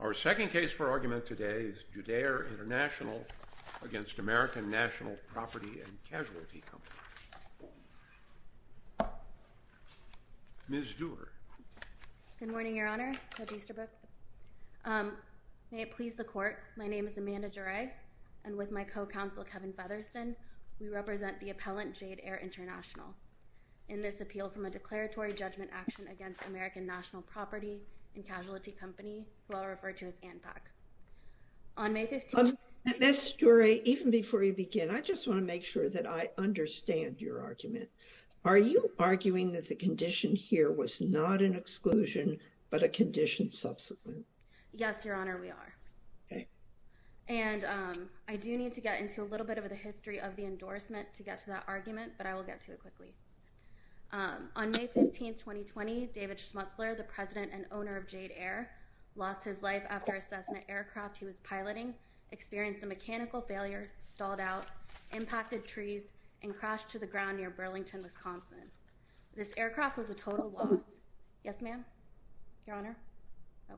Our second case for argument today is Jadair International, Inc. v. American National Property & Casualty Company. Ms. Dewar. Good morning, Your Honor. Judge Easterbrook. May it please the Court, my name is Amanda Duret, and with my co-counsel Kevin Featherston, we represent the appellant Jadair International. In this appeal from a declaratory judgment action against American National Property & Casualty Company, who I'll refer to as ANPAC. On May 15— Ms. Duret, even before you begin, I just want to make sure that I understand your argument. Are you arguing that the condition here was not an exclusion, but a condition subsequent? Yes, Your Honor, we are. And I do need to get into a little bit of the history of the endorsement to get to that argument, but I will get to it quickly. On May 15, 2020, David Schmutzler, the president and owner of Jadair, lost his life after a Cessna aircraft he was piloting experienced a mechanical failure, stalled out, impacted trees, and crashed to the ground near Burlington, Wisconsin. This aircraft was a total loss. Yes, ma'am? Your Honor? No.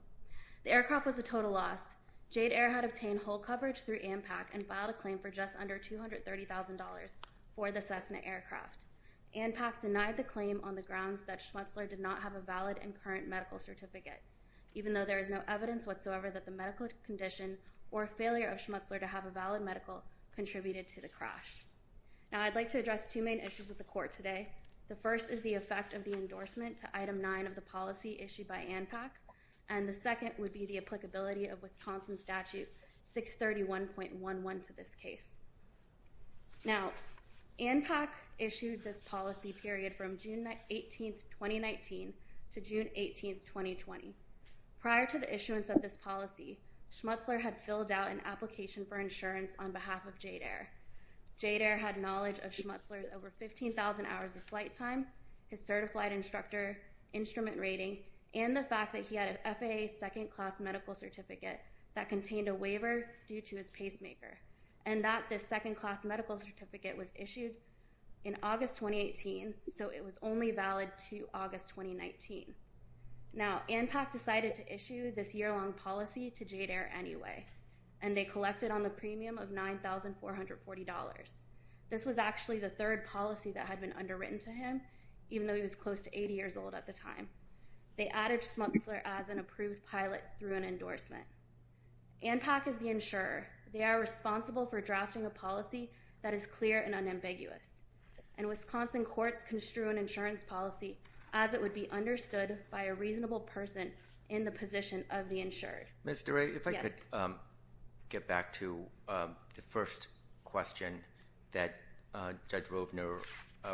The aircraft was a total loss. Jadair had obtained hull coverage through ANPAC and filed a claim for just under $230,000 for the Cessna aircraft. ANPAC denied the claim on the grounds that Schmutzler did not have a valid and current medical certificate, even though there is no evidence whatsoever that the medical condition or failure of Schmutzler to have a valid medical contributed to the crash. Now, I'd like to address two main issues with the Court today. The first is the effect of the endorsement to Item 9 of the policy issued by ANPAC, and the second would be the applicability of Wisconsin Statute 631.11 to this case. Now, ANPAC issued this policy period from June 18, 2019 to June 18, 2020. Prior to the issuance of this policy, Schmutzler had filled out an application for insurance on behalf of Jadair. Jadair had knowledge of Schmutzler's over 15,000 hours of flight time, his certified instructor instrument rating, and the fact that he had an FAA second-class medical certificate that contained a waiver due to his pacemaker. And that this second-class medical certificate was issued in August 2018, so it was only valid to August 2019. Now, ANPAC decided to issue this year-long policy to Jadair anyway, and they collected on the premium of $9,440. This was actually the third policy that had been underwritten to him, even though he was close to 80 years old at the time. They added Schmutzler as an approved pilot through an endorsement. ANPAC is the insurer. They are responsible for drafting a policy that is clear and unambiguous. And Wisconsin courts construed an insurance policy as it would be understood by a reasonable person in the position of the insured. Mr. Wray, if I could get back to the first question that Judge Rovner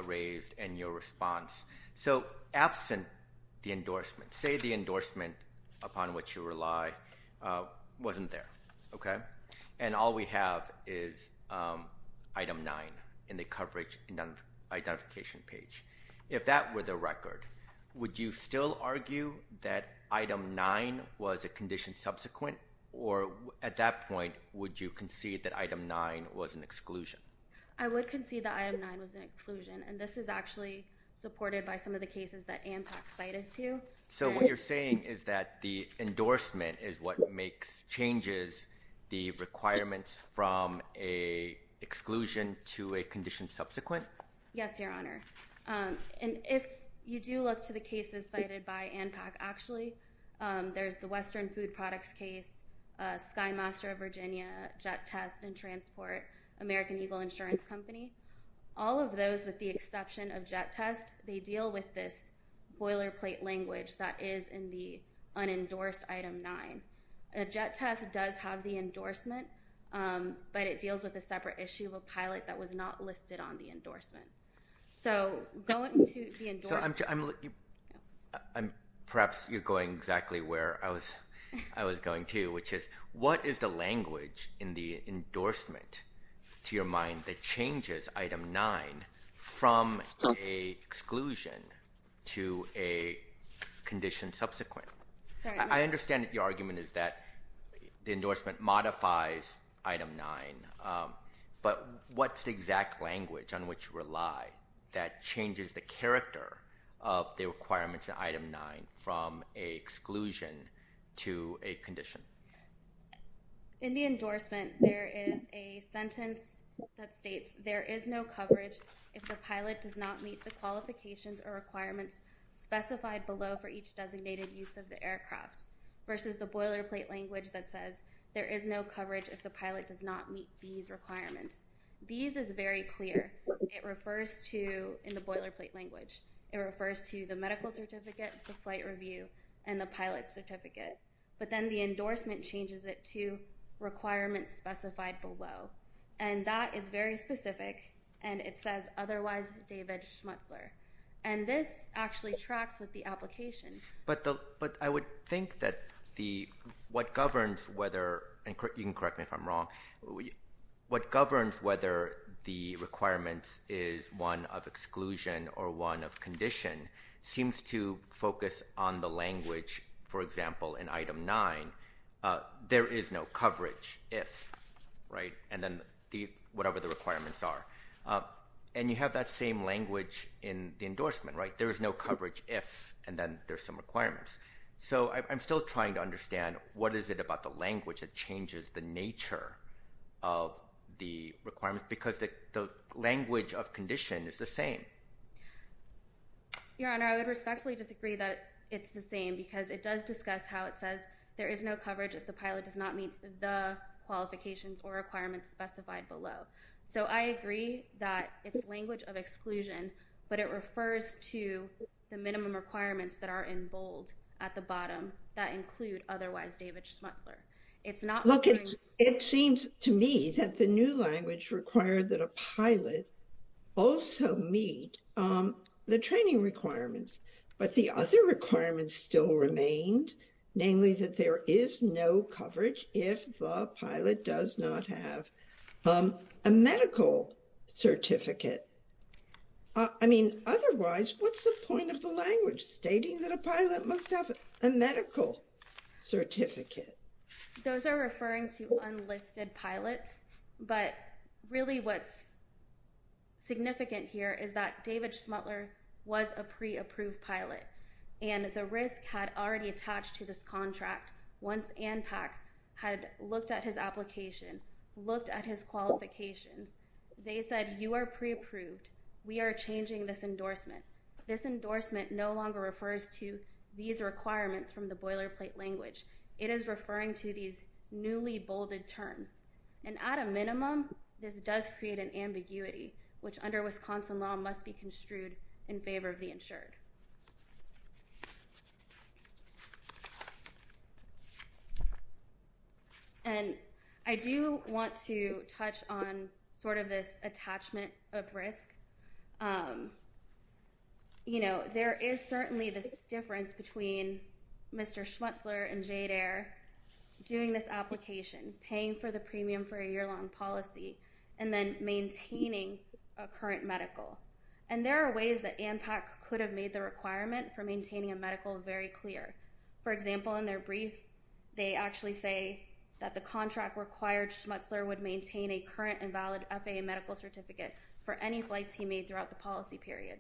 raised in your response. So absent the endorsement, say the endorsement upon which you rely wasn't there, okay? And all we have is item 9 in the coverage identification page. If that were the record, would you still argue that item 9 was a condition subsequent, or at that point, would you concede that item 9 was an exclusion? I would concede that item 9 was an exclusion. And this is actually supported by some of the cases that ANPAC cited to. So what you're saying is that the endorsement is what makes changes the requirements from a exclusion to a condition subsequent? Yes, Your Honor. And if you do look to the cases cited by ANPAC, actually, there's the Western Food Products case, Skymaster of Virginia, Jet Test and Transport, American Eagle Insurance Company. All of those, with the exception of Jet Test, they deal with this boilerplate language that is in the unendorsed item 9. Jet Test does have the endorsement, but it deals with a separate issue of a pilot that was not listed on the endorsement. So going to the endorsement. Perhaps you're going exactly where I was going to, which is, what is the language in the endorsement, to your mind, that changes item 9 from an exclusion to a condition subsequent? I understand that your argument is that the endorsement modifies item 9, but what's the language on which you rely that changes the character of the requirements in item 9 from an exclusion to a condition? In the endorsement, there is a sentence that states, there is no coverage if the pilot does not meet the qualifications or requirements specified below for each designated use of the aircraft, versus the boilerplate language that says, there is no coverage if the pilot does not meet these requirements. These is very clear. It refers to, in the boilerplate language, it refers to the medical certificate, the flight review, and the pilot certificate. But then the endorsement changes it to requirements specified below. And that is very specific, and it says, otherwise David Schmutzler. And this actually tracks with the application. But I would think that what governs whether, and you can correct me if I'm wrong, what governs whether the requirements is one of exclusion or one of condition seems to focus on the language, for example, in item 9, there is no coverage if, right, and then whatever the requirements are. And you have that same language in the endorsement, right? And then there's some requirements. So I'm still trying to understand what is it about the language that changes the nature of the requirements, because the language of condition is the same. Your Honor, I would respectfully disagree that it's the same, because it does discuss how it says, there is no coverage if the pilot does not meet the qualifications or requirements specified below. So I agree that it's language of exclusion, but it refers to the minimum requirements that are in bold at the bottom that include otherwise David Schmutzler. It's not... Look, it seems to me that the new language required that a pilot also meet the training requirements, but the other requirements still remained, namely that there is no coverage if the pilot does not have a medical certificate. I mean, otherwise, what's the point of the language stating that a pilot must have a medical certificate? Those are referring to unlisted pilots, but really what's significant here is that David Schmutzler was a pre-approved pilot, and the RISC had already attached to this contract once ANPAC had looked at his application, looked at his qualifications. They said, you are pre-approved. We are changing this endorsement. This endorsement no longer refers to these requirements from the boilerplate language. It is referring to these newly bolded terms, and at a minimum, this does create an ambiguity, which under Wisconsin law must be construed in favor of the insured. And I do want to touch on sort of this attachment of RISC. There is certainly this difference between Mr. Schmutzler and JADER doing this application, paying for the premium for a year-long policy, and then maintaining a current medical. And there are ways that ANPAC could have made the requirement for maintaining a medical very clear. For example, in their brief, they actually say that the contract required Schmutzler would maintain a current and valid FAA medical certificate for any flights he made throughout the policy period.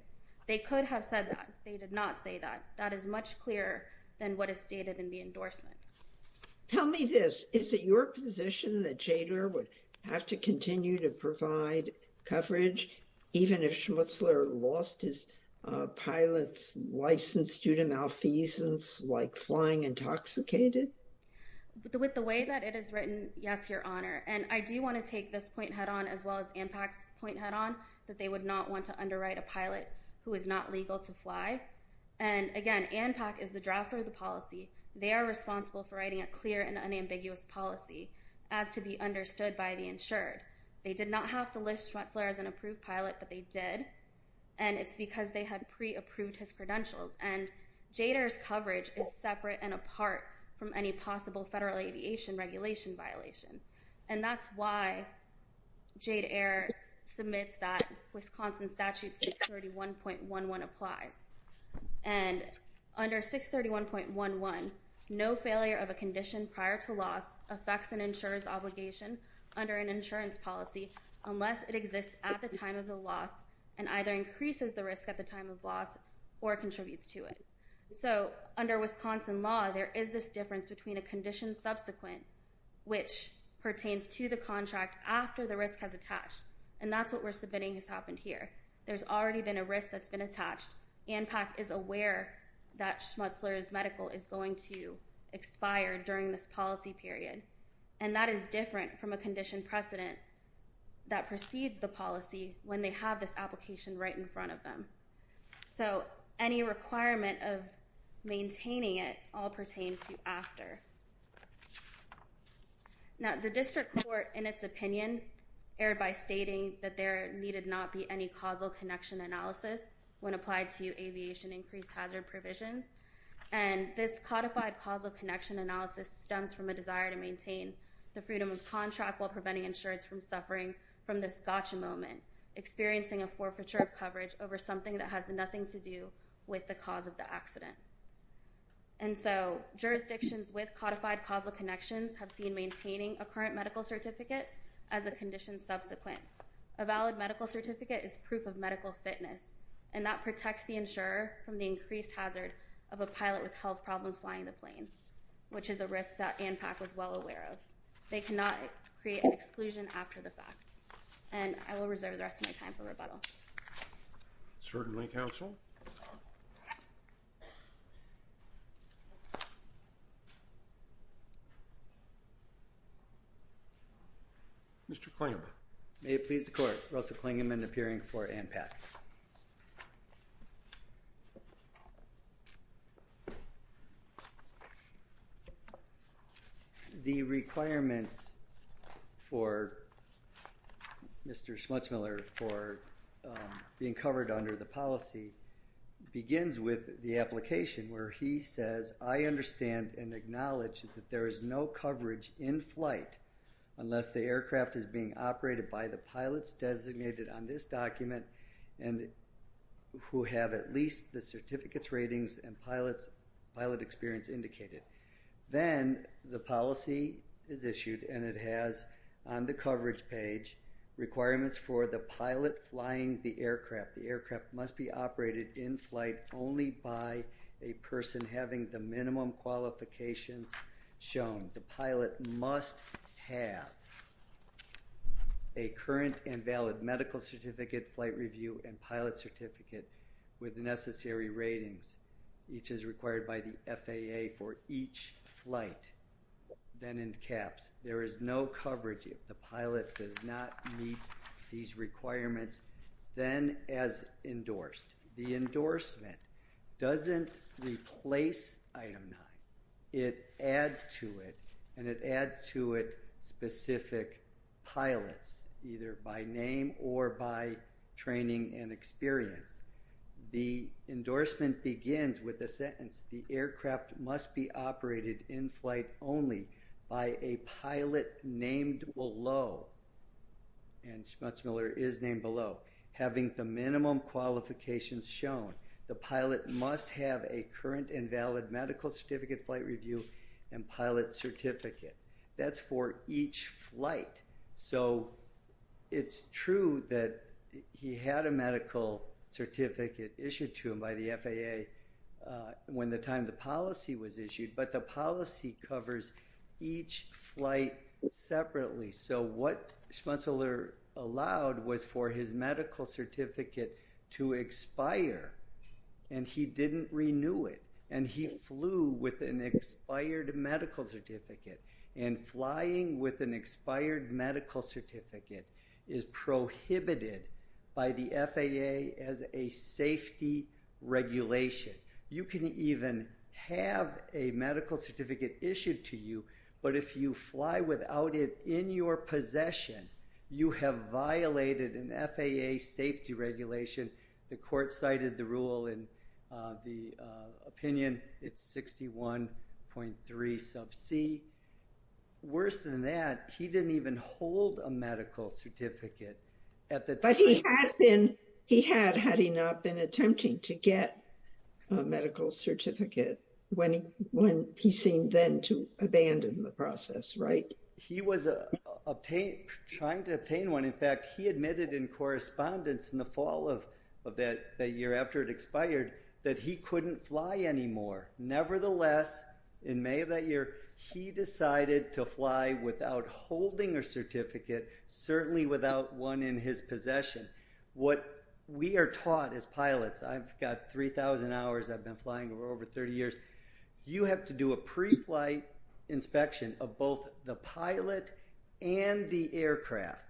They could have said that. They did not say that. That is much clearer than what is stated in the endorsement. Tell me this, is it your position that JADER would have to continue to provide coverage even if Schmutzler lost his pilot's license due to malfeasance, like flying intoxicated? With the way that it is written, yes, Your Honor. And I do want to take this point head-on as well as ANPAC's point head-on, that they would not want to underwrite a pilot who is not legal to fly. And again, ANPAC is the drafter of the policy. They are responsible for writing a clear and unambiguous policy as to be understood by the insured. They did not have to list Schmutzler as an approved pilot, but they did. And it's because they had pre-approved his credentials. And JADER's coverage is separate and apart from any possible federal aviation regulation violation. And that's why JADER submits that Wisconsin Statute 631.11 applies. And under 631.11, no failure of a condition prior to loss affects an insurer's obligation under an insurance policy unless it exists at the time of the loss and either increases the risk at the time of loss or contributes to it. So under Wisconsin law, there is this difference between a condition subsequent, which pertains to the contract after the risk has attached. And that's what we're submitting has happened here. There's already been a risk that's been attached. ANPAC is aware that Schmutzler's medical is going to expire during this policy period. And that is different from a condition precedent that precedes the policy when they have this application right in front of them. So any requirement of maintaining it all pertains to after. Now, the district court, in its opinion, erred by stating that there needed not be any causal connection analysis when applied to aviation increased hazard provisions. And this codified causal connection analysis stems from a desire to maintain the freedom of contract while preventing insurers from suffering from this gotcha moment, experiencing a forfeiture of coverage over something that has nothing to do with the cause of the accident. And so jurisdictions with codified causal connections have seen maintaining a current medical certificate as a condition subsequent. A valid medical certificate is proof of medical fitness, and that protects the insurer from the increased hazard of a pilot with health problems flying the plane, which is a risk that ANPAC was well aware of. They cannot create an exclusion after the fact. And I will reserve the rest of my time for rebuttal. Certainly, counsel. Mr. Klingerman. May it please the court, Russell Klingerman appearing for ANPAC. The requirements for Mr. Schmutzmiller for being covered under the policy begins with the application where he says, I understand and acknowledge that there is no coverage in flight unless the aircraft is being operated by the pilots designated on this document and who have at least the certificates, ratings, and pilot experience indicated. Then, the policy is issued and it has on the coverage page requirements for the pilot flying the aircraft. The aircraft must be operated in flight only by a person having the minimum qualifications shown. The pilot must have a current and valid medical certificate, flight review, and pilot certificate with necessary ratings, each as required by the FAA for each flight. Then in caps, there is no coverage if the pilot does not meet these requirements, then as endorsed. The endorsement doesn't replace item 9. It adds to it and it adds to it specific pilots either by name or by training and experience. The endorsement begins with the sentence, the aircraft must be operated in flight only by a pilot named below and Schmutzmiller is named below, having the minimum qualifications shown. The pilot must have a current and valid medical certificate, flight review, and pilot certificate. That's for each flight. So, it's true that he had a medical certificate issued to him by the FAA when the time the policy was issued, but the policy covers each flight separately. So, what Schmutzmiller allowed was for his medical certificate to expire and he didn't renew it and he flew with an expired medical certificate and flying with an expired medical certificate is prohibited by the FAA as a safety regulation. You can even have a medical certificate issued to you, but if you fly without it in your possession, you have violated an FAA safety regulation. The court cited the rule in the opinion. It's 61.3 sub c. Worse than that, he didn't even hold a medical certificate. But he had had he not been attempting to get a medical certificate when he seemed then to abandon the process, right? He was trying to obtain one. In fact, he admitted in correspondence in the fall of that year after it expired that he couldn't fly anymore. Nevertheless, in May of that year, he decided to fly without holding a certificate, certainly without one in his possession. What we are taught as pilots, I've got 3,000 hours, I've been flying over 30 years, you have to do a pre-flight inspection of both the pilot and the aircraft.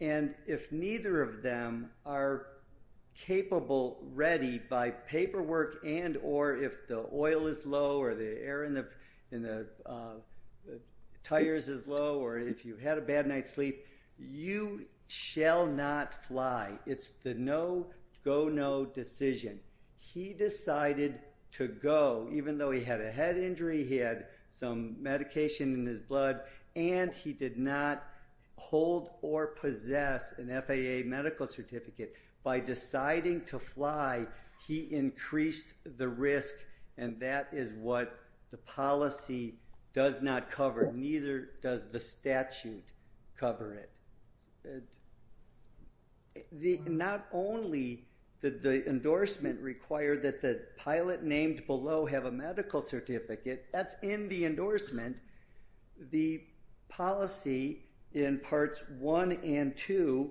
And if neither of them are capable, ready by paperwork and or if the oil is low or the It's the no-go-no decision. He decided to go, even though he had a head injury, he had some medication in his blood, and he did not hold or possess an FAA medical certificate. By deciding to fly, he increased the risk, and that is what the policy does not cover. Neither does the statute cover it. Not only did the endorsement require that the pilot named below have a medical certificate, that's in the endorsement. The policy in parts 1 and 2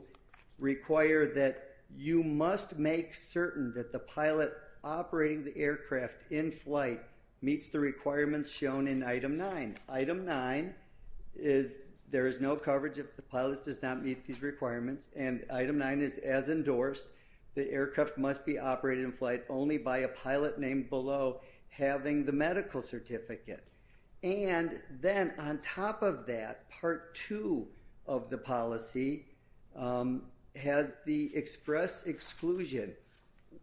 require that you must make certain that the pilot operating the aircraft in flight meets the requirements shown in item 9. And item 9 is there is no coverage if the pilot does not meet these requirements, and item 9 is as endorsed, the aircraft must be operated in flight only by a pilot named below having the medical certificate. And then on top of that, part 2 of the policy has the express exclusion.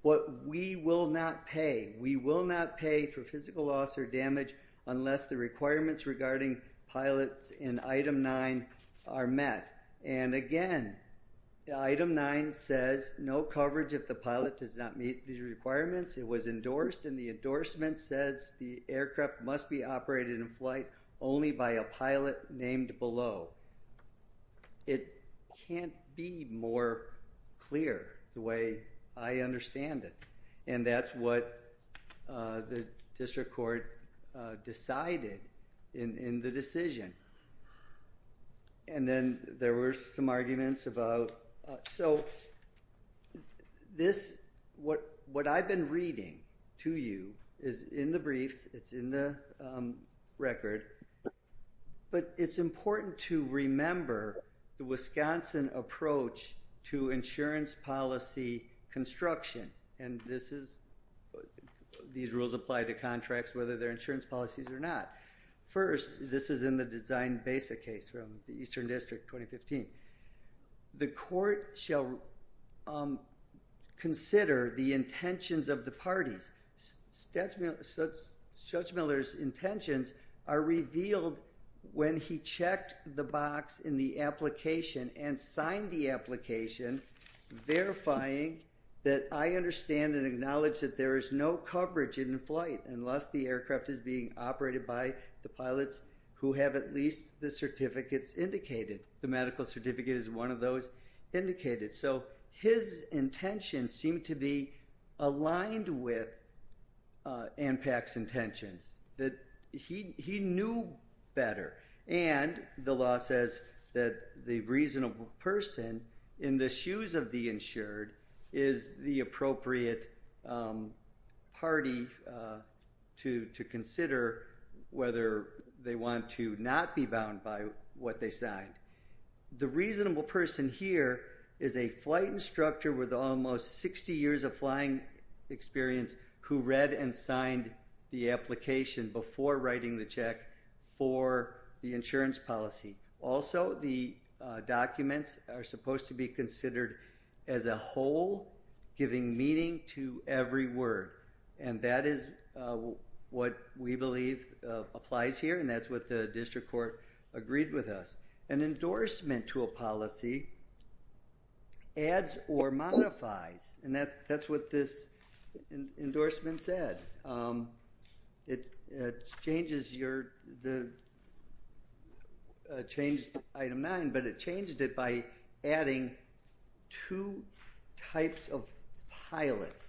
What we will not pay. We will not pay for physical loss or damage unless the requirements regarding pilots in item 9 are met. And again, item 9 says no coverage if the pilot does not meet these requirements. It was endorsed, and the endorsement says the aircraft must be operated in flight only by a pilot named below. It can't be more clear the way I understand it, and that's what the district court decided in the decision. And then there were some arguments about, so, this, what I've been reading to you is in the briefs, it's in the record, but it's important to remember the Wisconsin approach to insurance policy construction, and this is, these rules apply to contracts whether they're insurance policies or not. First, this is in the design BASA case from the Eastern District 2015. The court shall consider the intentions of the parties. Judge Miller's intentions are revealed when he checked the box in the application and signed the application verifying that I understand and acknowledge that there is no coverage in flight unless the aircraft is being operated by the pilots who have at least the certificates indicated. The medical certificate is one of those indicated. So, his intentions seem to be aligned with ANPAC's intentions, that he knew better. And the law says that the reasonable person in the shoes of the insured is the appropriate party to consider whether they want to not be bound by what they signed. The reasonable person here is a flight instructor with almost 60 years of flying experience who read and signed the application before writing the check for the insurance policy. Also, the documents are supposed to be considered as a whole, giving meaning to every word, and that is what we believe applies here, and that's what the district court agreed with us. An endorsement to a policy adds or modifies, and that's what this endorsement said. It changes your—it changed Item 9, but it changed it by adding two types of pilots.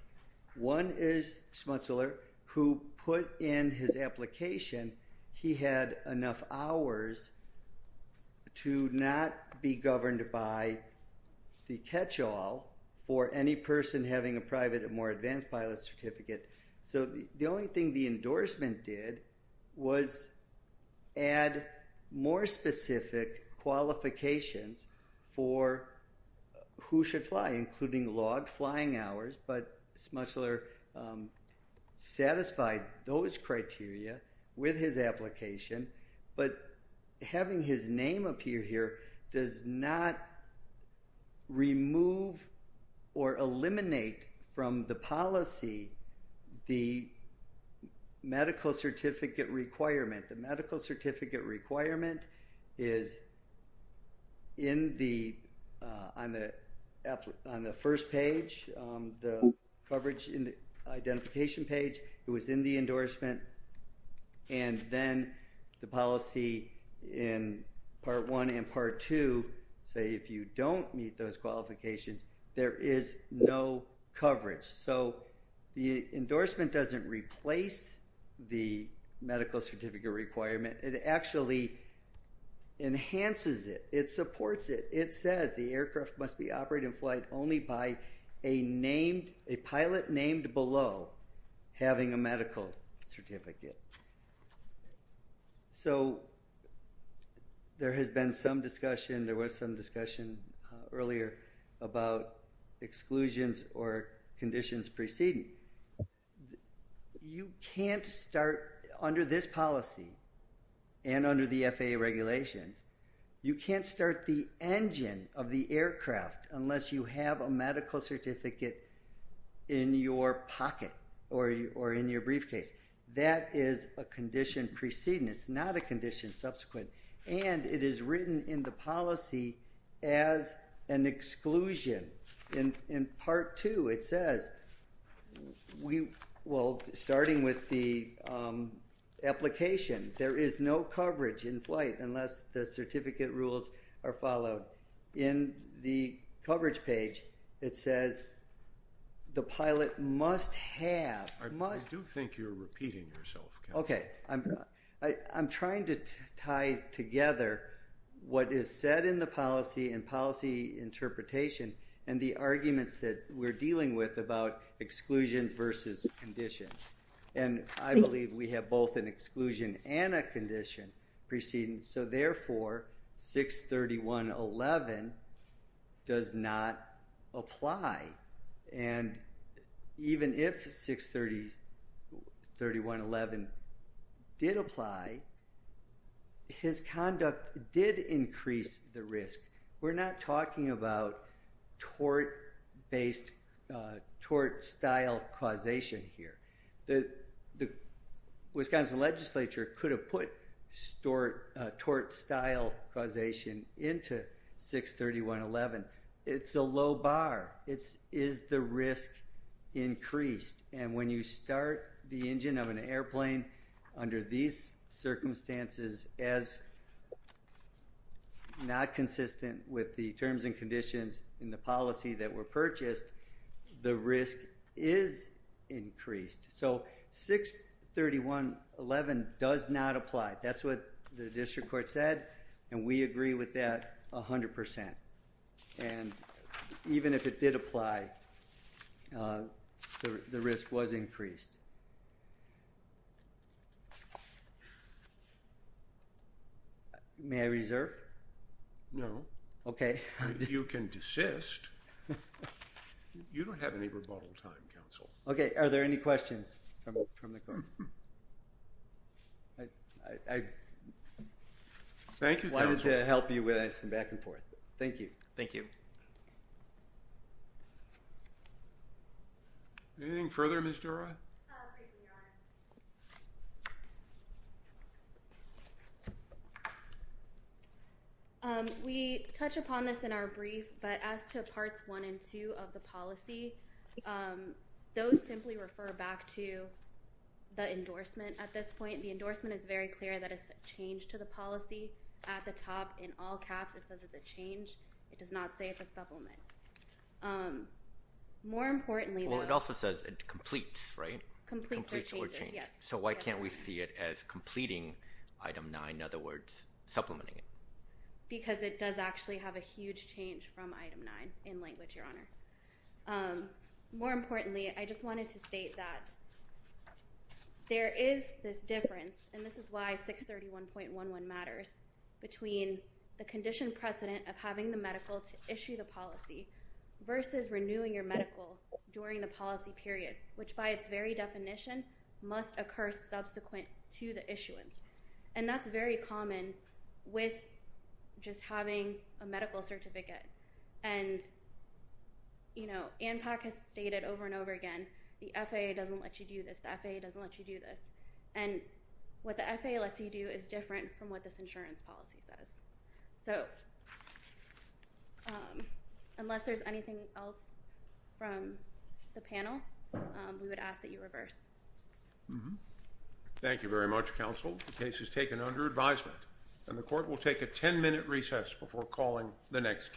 One is Schmutzler, who put in his application he had enough hours to not be governed by the catch-all for any person having a private or more advanced pilot certificate. So, the only thing the endorsement did was add more specific qualifications for who should fly, including logged flying hours, but Schmutzler satisfied those criteria with his application. But having his name appear here does not remove or eliminate from the policy the medical certificate requirement. The medical certificate requirement is on the first page, the coverage identification page. It was in the endorsement. And then the policy in Part 1 and Part 2 say if you don't meet those qualifications, there is no coverage. So, the endorsement doesn't replace the medical certificate requirement. It actually enhances it. It supports it. It says the aircraft must be operated in flight only by a pilot named below having a medical certificate. So, there has been some discussion, there was some discussion earlier about exclusions or conditions preceding. You can't start under this policy and under the FAA regulations, you can't start the engine of the aircraft unless you have a medical certificate in your pocket or in your briefcase. That is a condition preceding. It's not a condition subsequent. And it is written in the policy as an exclusion. In Part 2, it says, well, starting with the application, there is no coverage in flight unless the certificate rules are followed. In the coverage page, it says the pilot must have. I do think you're repeating yourself. Okay. I'm trying to tie together what is said in the policy and policy interpretation and the arguments that we're dealing with about exclusions versus conditions. And I believe we have both an exclusion and a condition preceding. So, therefore, 631.11 does not apply. And even if 631.11 did apply, his conduct did increase the risk. We're not talking about tort-based, tort-style causation here. The Wisconsin legislature could have put tort-style causation into 631.11. It's a low bar. It's is the risk increased. And when you start the engine of an airplane under these circumstances as not consistent with the terms and conditions in the policy that were purchased, the risk is increased. So, 631.11 does not apply. That's what the district court said. And we agree with that 100%. And even if it did apply, the risk was increased. May I reserve? No. Okay. You can desist. You don't have any rebuttal time, counsel. Are there any questions from the court? Thank you, counsel. We'd love to help you with this and back and forth. Thank you. Thank you. Anything further, Ms. Dura? We touch upon this in our brief, but as to Parts 1 and 2 of the policy, those simply refer back to the endorsement at this point. The endorsement is very clear that it's a change to the policy. At the top, in all caps, it says it's a change. It does not say it's a supplement. More importantly, though. Well, it also says it completes, right? Completes or changes, yes. So why can't we see it as completing Item 9, in other words, supplementing it? Because it does actually have a huge change from Item 9 in language, Your Honor. More importantly, I just wanted to state that there is this difference, and this is why 631.11 matters, between the condition precedent of having the medical to issue the policy versus renewing your medical during the policy period, which by its very definition must occur subsequent to the issuance. And that's very common with just having a medical certificate. And, you know, ANPAC has stated over and over again, the FAA doesn't let you do this. The FAA doesn't let you do this. And what the FAA lets you do is different from what this insurance policy says. So unless there's anything else from the panel, we would ask that you reverse. Thank you very much, counsel. The case is taken under advisement, and the court will take a 10-minute recess before calling the next case.